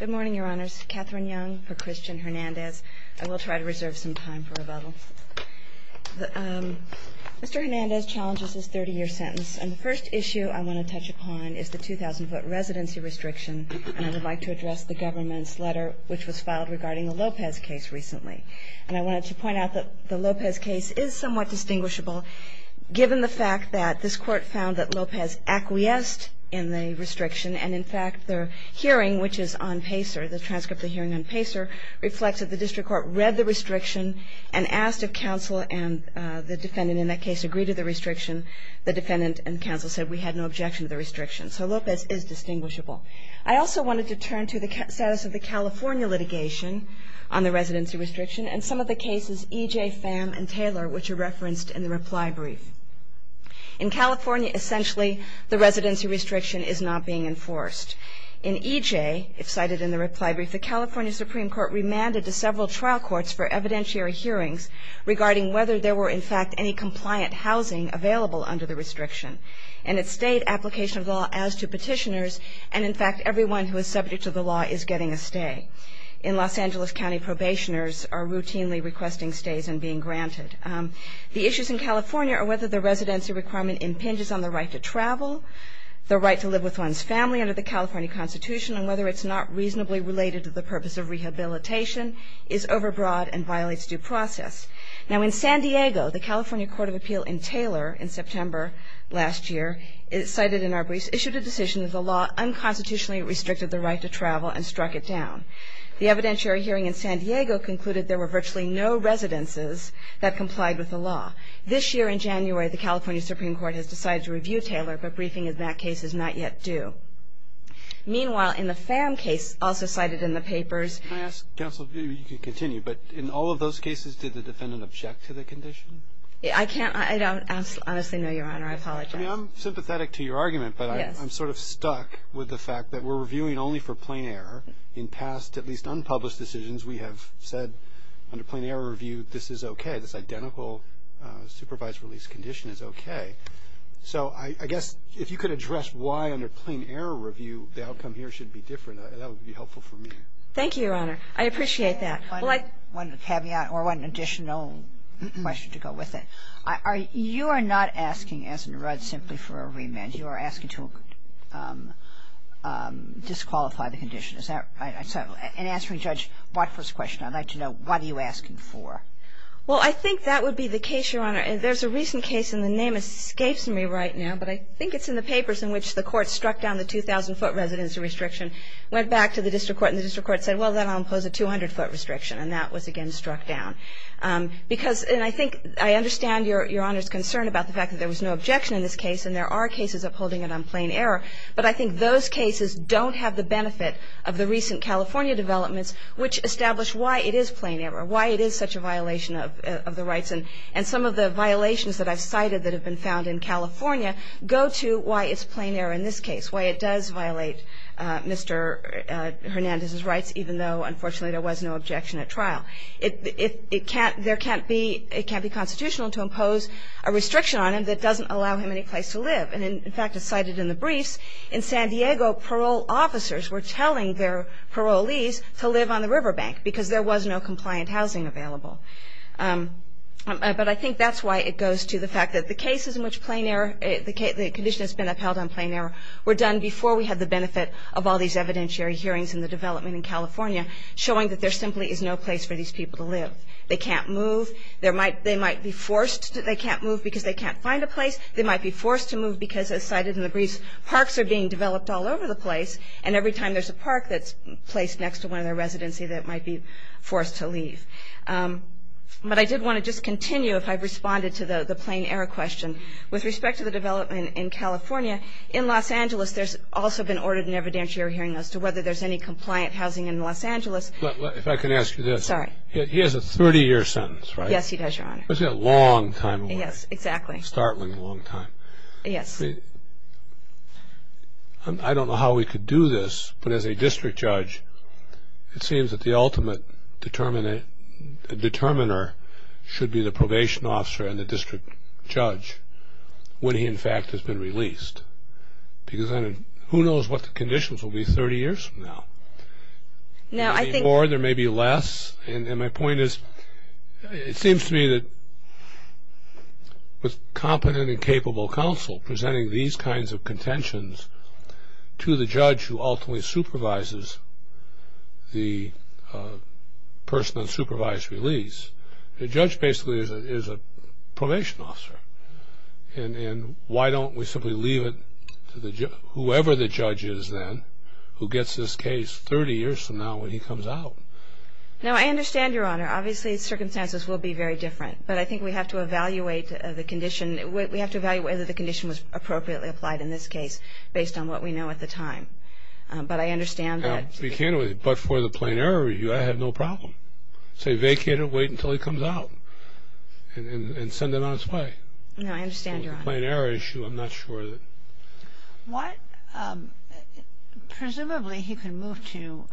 Good morning, Your Honors. Catherine Young for Christian Hernandez. I will try to reserve some time for rebuttal. Mr. Hernandez challenges this 30-year sentence, and the first issue I want to touch upon is the 2,000-foot residency restriction, and I would like to address the government's letter which was filed regarding the Lopez case recently. And I wanted to point out that the Lopez case is somewhat distinguishable, given the fact that this Court found that Lopez acquiesced in the restriction, and in fact, the hearing which is on PACER, the transcript of the hearing on PACER, reflects that the District Court read the restriction and asked if counsel and the defendant in that case agreed to the restriction. The defendant and counsel said we had no objection to the restriction. So Lopez is distinguishable. I also wanted to turn to the status of the California litigation on the residency restriction and some of the cases EJ, Pham, and Taylor which are referenced in the reply brief. In California, essentially, the residency restriction is not being enforced. In EJ, as cited in the reply brief, the California Supreme Court remanded to several trial courts for evidentiary hearings regarding whether there were, in fact, any compliant housing available under the restriction. And it stayed application of law as to petitioners, and in fact, everyone who is subject to the law is getting a stay. In Los Angeles County, probationers are routinely requesting stays and being granted. The issues in California are whether the residency requirement impinges on the right to travel, the right to live with one's family under the California Constitution, and whether it's not reasonably related to the purpose of rehabilitation, is overbroad, and violates due process. Now in San Diego, the California Court of Appeal in Taylor in September last year cited in our briefs issued a decision that the law unconstitutionally restricted the right to travel and struck it down. The evidentiary hearing in San Diego concluded there were virtually no residences that complied with the law. This year, in January, the California Supreme Court has decided to review Taylor, but briefing in that case is not yet due. Meanwhile, in the Pham case, also cited in the papers. Can I ask, counsel, if you could continue, but in all of those cases, did the defendant object to the condition? I can't, I don't honestly know, Your Honor. I apologize. I'm sympathetic to your argument, but I'm sort of stuck with the fact that we're reviewing only for plain error in past, at least unpublished decisions, we have said under plain error review, this is okay. This identical supervised release condition is okay. So I guess if you could address why under plain error review the outcome here should be different, that would be helpful for me. Thank you, Your Honor. I appreciate that. One caveat, or one additional question to go with it. You are not asking, as in Rudd, simply for a remand. You are asking to disqualify the condition. Is that right? And answering Judge Watford's question, I'd like to know, what are you asking for? Well, I think that would be the case, Your Honor. There's a recent case, and the name escapes me right now, but I think it's in the papers, in which the court struck down the 2,000-foot residency restriction, went back to the district court, and the district court said, well, then I'll impose a 200-foot restriction, and that was, again, struck down. Because, and I think, I understand Your Honor's concern about the fact that there was no objection in this case, and there are cases upholding it on plain error, but I think those cases don't have the benefit of the recent California developments, which establish why it is plain error, why it is such a violation of the rights. And some of the violations that I've cited that have been found in California go to why it's plain error in this case, why it does violate Mr. Hernandez's rights, even though, unfortunately, there was no objection at trial. It can't be constitutional to impose a restriction on him that doesn't allow him any place to live. And, in fact, as cited in the briefs, in San Diego, parole officers were telling their parolees to live on the riverbank, because there was no compliant housing available. But I think that's why it goes to the fact that the cases in which plain error, the condition that's been upheld on plain error, were done before we had the benefit of all these evidentiary hearings in the development in California, showing that there simply is no place for these people to live. They can't move. They might be forced. They can't move because they can't find a place. They might be forced to move because, as cited in the briefs, parks are being developed all over the place, and every time there's a park that's placed next to one of their residencies, they might be forced to leave. But I did want to just continue, if I've responded to the plain error question. With respect to the development in California, in Los Angeles, there's also been ordered an evidentiary hearing as to whether there's any compliant housing in Los Angeles. If I can ask you this. Sorry. He has a 30-year sentence, right? Yes, he does, Your Honor. That's a long time away. Yes, exactly. A startling long time. Yes. I don't know how we could do this, but as a district judge, it seems that the ultimate determiner should be the probation officer and the district judge when he, in fact, has been released. Because who knows what the conditions will be 30 years from now. There may be more. There may be less. And my point is, it seems to me that with competent and capable counsel presenting these kinds of contentions to the judge who ultimately supervises the person on supervised release, the judge basically is a probation officer. And why don't we simply leave it to whoever the judge is then who gets this case 30 years from now when he comes out? No, I understand, Your Honor. Obviously, circumstances will be very different. But I think we have to evaluate the condition. We have to evaluate whether the condition was appropriately applied in this case based on what we know at the time. But I understand that. But for the plain error review, I have no problem. So you vacate it, wait until he comes out, and send him on his way. No, I understand, Your Honor. For the plain error issue, I'm not sure. What? Presumably, he can move to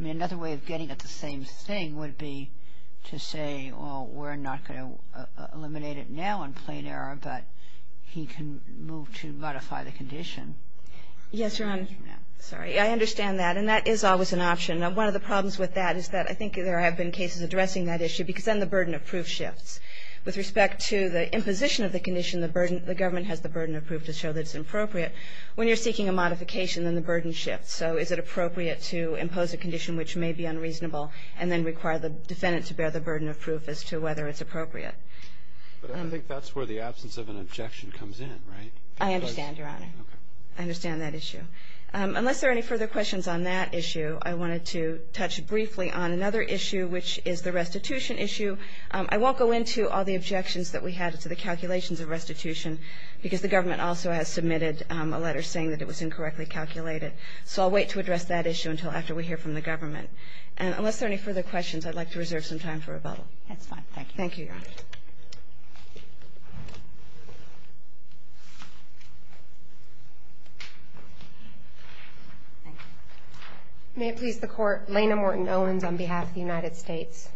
another way of getting at the same thing would be to say, well, we're not going to eliminate it now in plain error, but he can move to modify the condition. Yes, Your Honor. Sorry. I understand that. And that is always an option. Now, one of the problems with that is that I think there have been cases addressing that issue because then the burden of proof shifts. With respect to the imposition of the condition, the government has the burden of proof to show that it's appropriate. When you're seeking a modification, then the burden shifts. So is it appropriate to impose a condition which may be unreasonable and then require the defendant to bear the burden of proof as to whether it's appropriate? But I don't think that's where the absence of an objection comes in, right? I understand, Your Honor. Okay. I understand that issue. Unless there are any further questions on that issue, I wanted to touch briefly on another issue, which is the restitution issue. I won't go into all the objections that we had to the calculations of restitution because the government also has submitted a letter saying that it was incorrectly calculated. So I'll wait to address that issue until after we hear from the government. And unless there are any further questions, I'd like to reserve some time for rebuttal. That's fine. Thank you. Thank you, Your Honor. Thank you. May it please the Court. Laina Morton-Owens on behalf of the United States.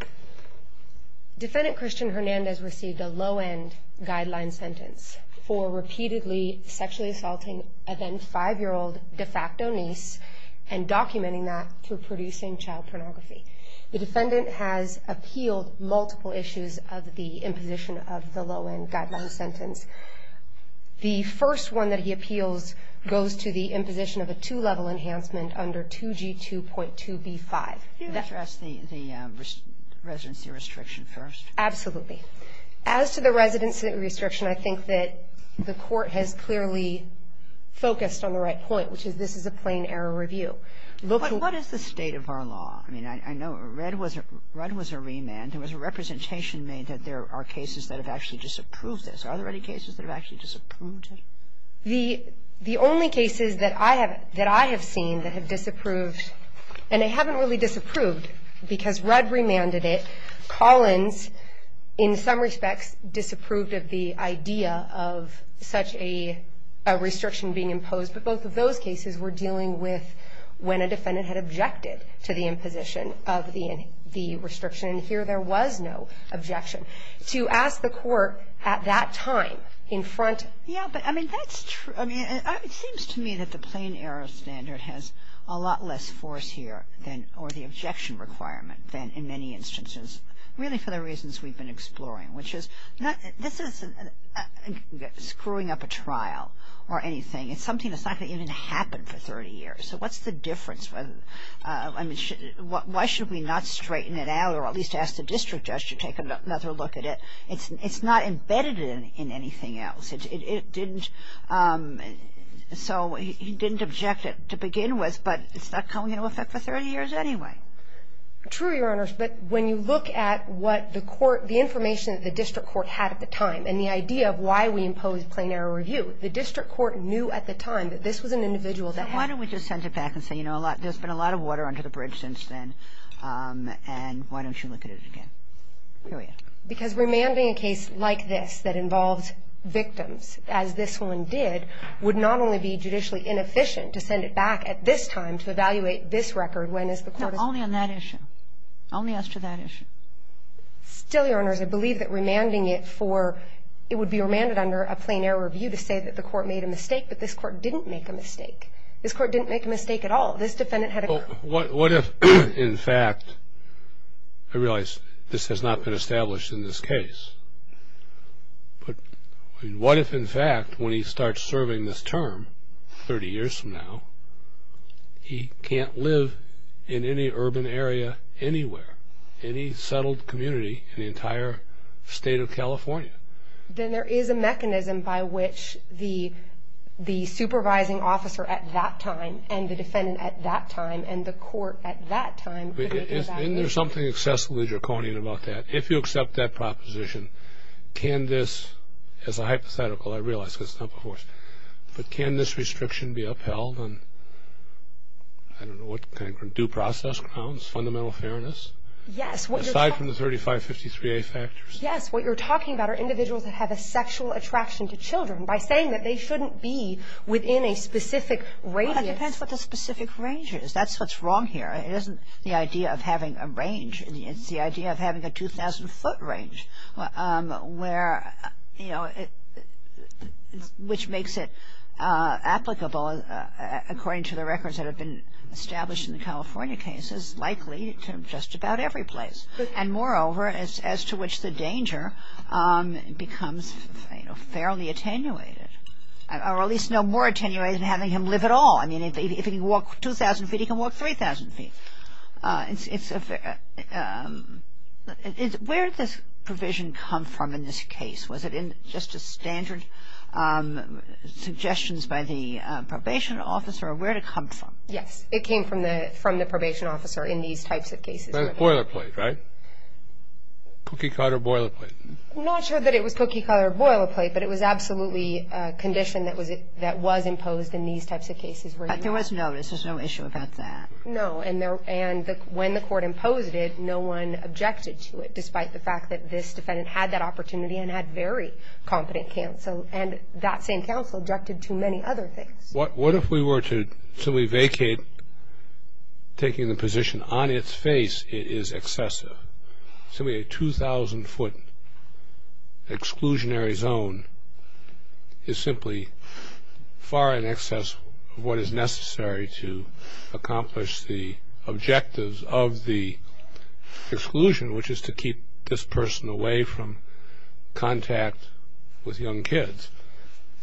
Defendant Christian Hernandez received a low-end guideline sentence for repeatedly sexually assaulting a then-5-year-old de facto niece and documenting that through producing child pornography. The defendant has appealed multiple issues of the imposition of the low-end guideline sentence. The first one that he appeals goes to the imposition of a two-level enhancement under 2G2.2b5. Can I address the residency restriction first? Absolutely. As to the residency restriction, I think that the Court has clearly focused on the right point, which is this is a plain error review. What is the state of our law? I mean, I know Red was a remand. There was a representation made that there are cases that have actually disapproved this. Are there any cases that have actually disapproved it? The only cases that I have seen that have disapproved, and they haven't really disapproved because Red remanded it, Collins in some respects disapproved of the idea of such a restriction being imposed, but both of those cases were dealing with when a defendant had objected to the imposition of the restriction, and here there was no objection. To ask the Court at that time in front of the judge, I mean, it seems to me that the plain error standard has a lot less force here or the objection requirement than in many instances, really for the reasons we've been exploring, which is this isn't screwing up a trial or anything. It's something that's not going to even happen for 30 years. So what's the difference? I mean, why should we not straighten it out or at least ask the district judge to take another look at it? It's not embedded in anything else. It didn't, so he didn't object it to begin with, but it's not coming into effect for 30 years anyway. True, Your Honors, but when you look at what the court, the information that the district court had at the time and the idea of why we imposed plain error review, the district court knew at the time that this was an individual that had. Then why don't we just send it back and say, you know, there's been a lot of water under the bridge since then, and why don't you look at it again? Period. Because remanding a case like this that involves victims as this one did would not only be judicially inefficient to send it back at this time to evaluate this record when is the court. No, only on that issue. Only as to that issue. Still, Your Honors, I believe that remanding it for, it would be remanded under a plain error review to say that the court made a mistake, but this court didn't make a mistake. This court didn't make a mistake at all. This defendant had a. Well, what if, in fact, I realize this has not been established in this case, but what if, in fact, when he starts serving this term 30 years from now, he can't live in any urban area anywhere, any settled community in the entire state of California? Then there is a mechanism by which the supervising officer at that time and the defendant at that time and the court at that time. Isn't there something excessively draconian about that? If you accept that proposition, can this, as a hypothetical, I realize because it's not before us, but can this restriction be upheld on, I don't know, what kind of due process grounds, fundamental fairness? Yes. Aside from the 3553A factors. Yes, what you're talking about are individuals that have a sexual attraction to children. By saying that they shouldn't be within a specific radius. It depends what the specific range is. That's what's wrong here. It isn't the idea of having a range. It's the idea of having a 2,000-foot range where, you know, which makes it applicable, according to the records that have been established in the California cases, likely to just about every place. And moreover, as to which the danger becomes, you know, fairly attenuated. Or at least no more attenuated than having him live at all. I mean, if he can walk 2,000 feet, he can walk 3,000 feet. Where did this provision come from in this case? Was it in just a standard suggestions by the probation officer or where did it come from? Yes, it came from the probation officer in these types of cases. Boilerplate, right? Cookie-cutter boilerplate. I'm not sure that it was cookie-cutter boilerplate, but it was absolutely a condition that was imposed in these types of cases. But there was no issue about that. No, and when the court imposed it, no one objected to it, despite the fact that this defendant had that opportunity and had very competent counsel. And that same counsel objected to many other things. What if we were to vacate taking the position on its face it is excessive? Simply a 2,000-foot exclusionary zone is simply far in excess of what is necessary to accomplish the objectives of the exclusion, which is to keep this person away from contact with young kids.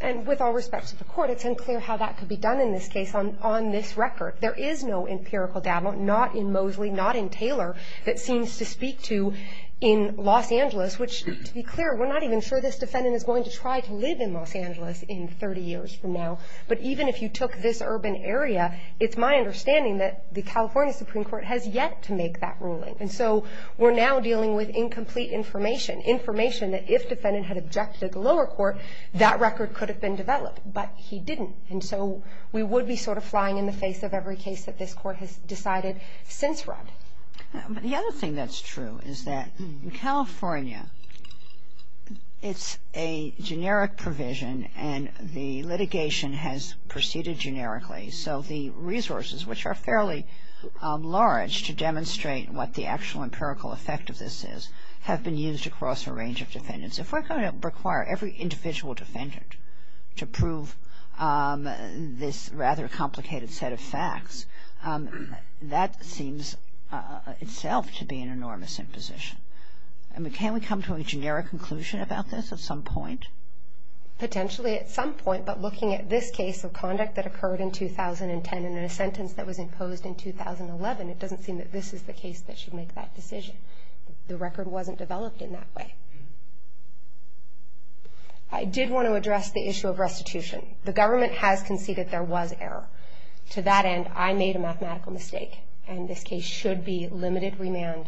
And with all respect to the court, it's unclear how that could be done in this case on this record. There is no empirical data, not in Moseley, not in Taylor, that seems to speak to in Los Angeles, which, to be clear, we're not even sure this defendant is going to try to live in Los Angeles in 30 years from now. But even if you took this urban area, it's my understanding that the California Supreme Court has yet to make that ruling. And so we're now dealing with incomplete information, information that if defendant had objected to the lower court, that record could have been developed. But he didn't. And so we would be sort of flying in the face of every case that this court has decided since Rudd. But the other thing that's true is that in California, it's a generic provision and the litigation has proceeded generically. So the resources, which are fairly large, to demonstrate what the actual empirical effect of this is, have been used across a range of defendants. If we're going to require every individual defendant to prove this rather complicated set of facts, that seems itself to be an enormous imposition. I mean, can we come to a generic conclusion about this at some point? Potentially at some point, but looking at this case of conduct that occurred in 2010 and in a sentence that was imposed in 2011, it doesn't seem that this is the case that should make that decision. The record wasn't developed in that way. I did want to address the issue of restitution. The government has conceded there was error. To that end, I made a mathematical mistake. And this case should be limited remand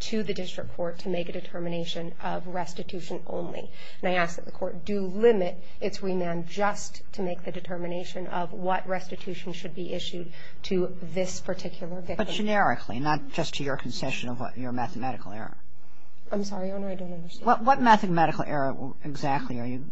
to the district court to make a determination of restitution only. And I ask that the court do limit its remand just to make the determination of what restitution should be issued to this particular victim. But generically, not just to your concession of your mathematical error. I'm sorry, Your Honor, I don't understand. What mathematical error exactly are you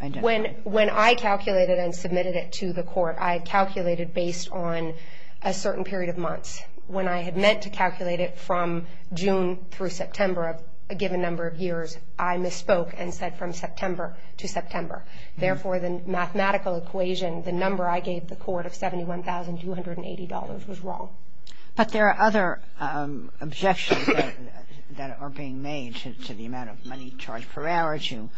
identifying? When I calculated and submitted it to the court, I calculated based on a certain period of months. When I had meant to calculate it from June through September of a given number of years, I misspoke and said from September to September. Therefore, the mathematical equation, the number I gave the court of $71,280 was wrong. But there are other objections that are being made to the amount of money charged per hour to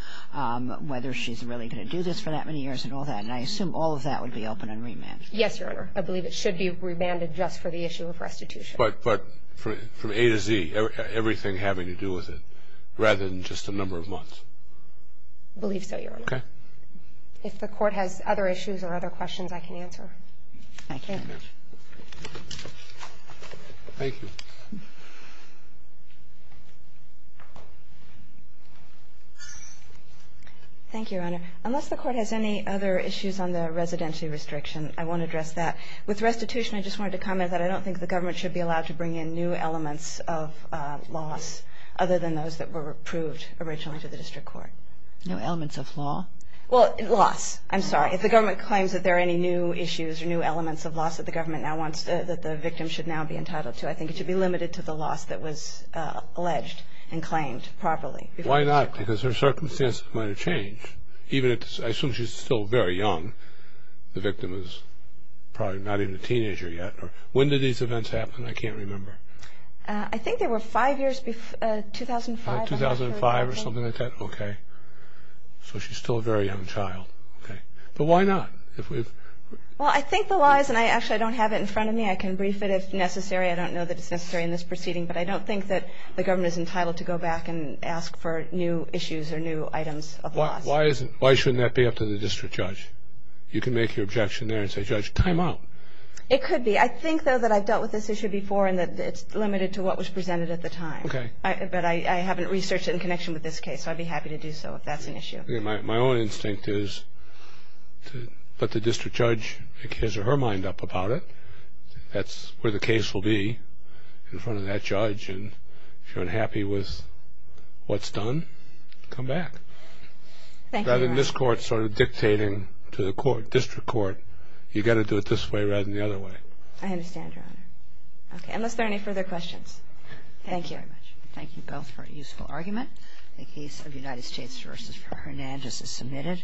whether she's really going to do this for that many years and all that. And I assume all of that would be open on remand. Yes, Your Honor. I believe it should be remanded just for the issue of restitution. But from A to Z, everything having to do with it, rather than just a number of months? I believe so, Your Honor. Okay. If the court has other issues or other questions, I can answer. Thank you. Thank you. Thank you, Your Honor. Unless the court has any other issues on the residential restriction, I won't address that. With restitution, I just wanted to comment that I don't think the government should be allowed to bring in new elements of laws other than those that were approved originally to the district court. New elements of law? Well, laws. I'm sorry. If the government claims that there are any new issues or new elements of laws that the government now wants that the victim should now be entitled to, I think it should be limited to the laws that was alleged and claimed properly. Why not? Because her circumstances might have changed. I assume she's still very young. The victim is probably not even a teenager yet. When did these events happen? I can't remember. I think they were five years before 2005. 2005 or something like that? Okay. So she's still a very young child. Okay. But why not? Well, I think the laws, and I actually don't have it in front of me. I can brief it if necessary. I don't know that it's necessary in this proceeding, but I don't think that the government is entitled to go back and ask for new issues or new items of laws. Why shouldn't that be up to the district judge? You can make your objection there and say, Judge, time out. It could be. I think, though, that I've dealt with this issue before and that it's limited to what was presented at the time. Okay. But I haven't researched it in connection with this case, so I'd be happy to do so if that's an issue. My own instinct is to let the district judge make his or her mind up about it. That's where the case will be in front of that judge, and if you're unhappy with what's done, come back. Thank you, Your Honor. Rather than this court sort of dictating to the court, district court, you've got to do it this way rather than the other way. I understand, Your Honor. Okay. Unless there are any further questions. Thank you. Thank you very much. Thank you both for a useful argument. The case of United States v. Fernandez is submitted.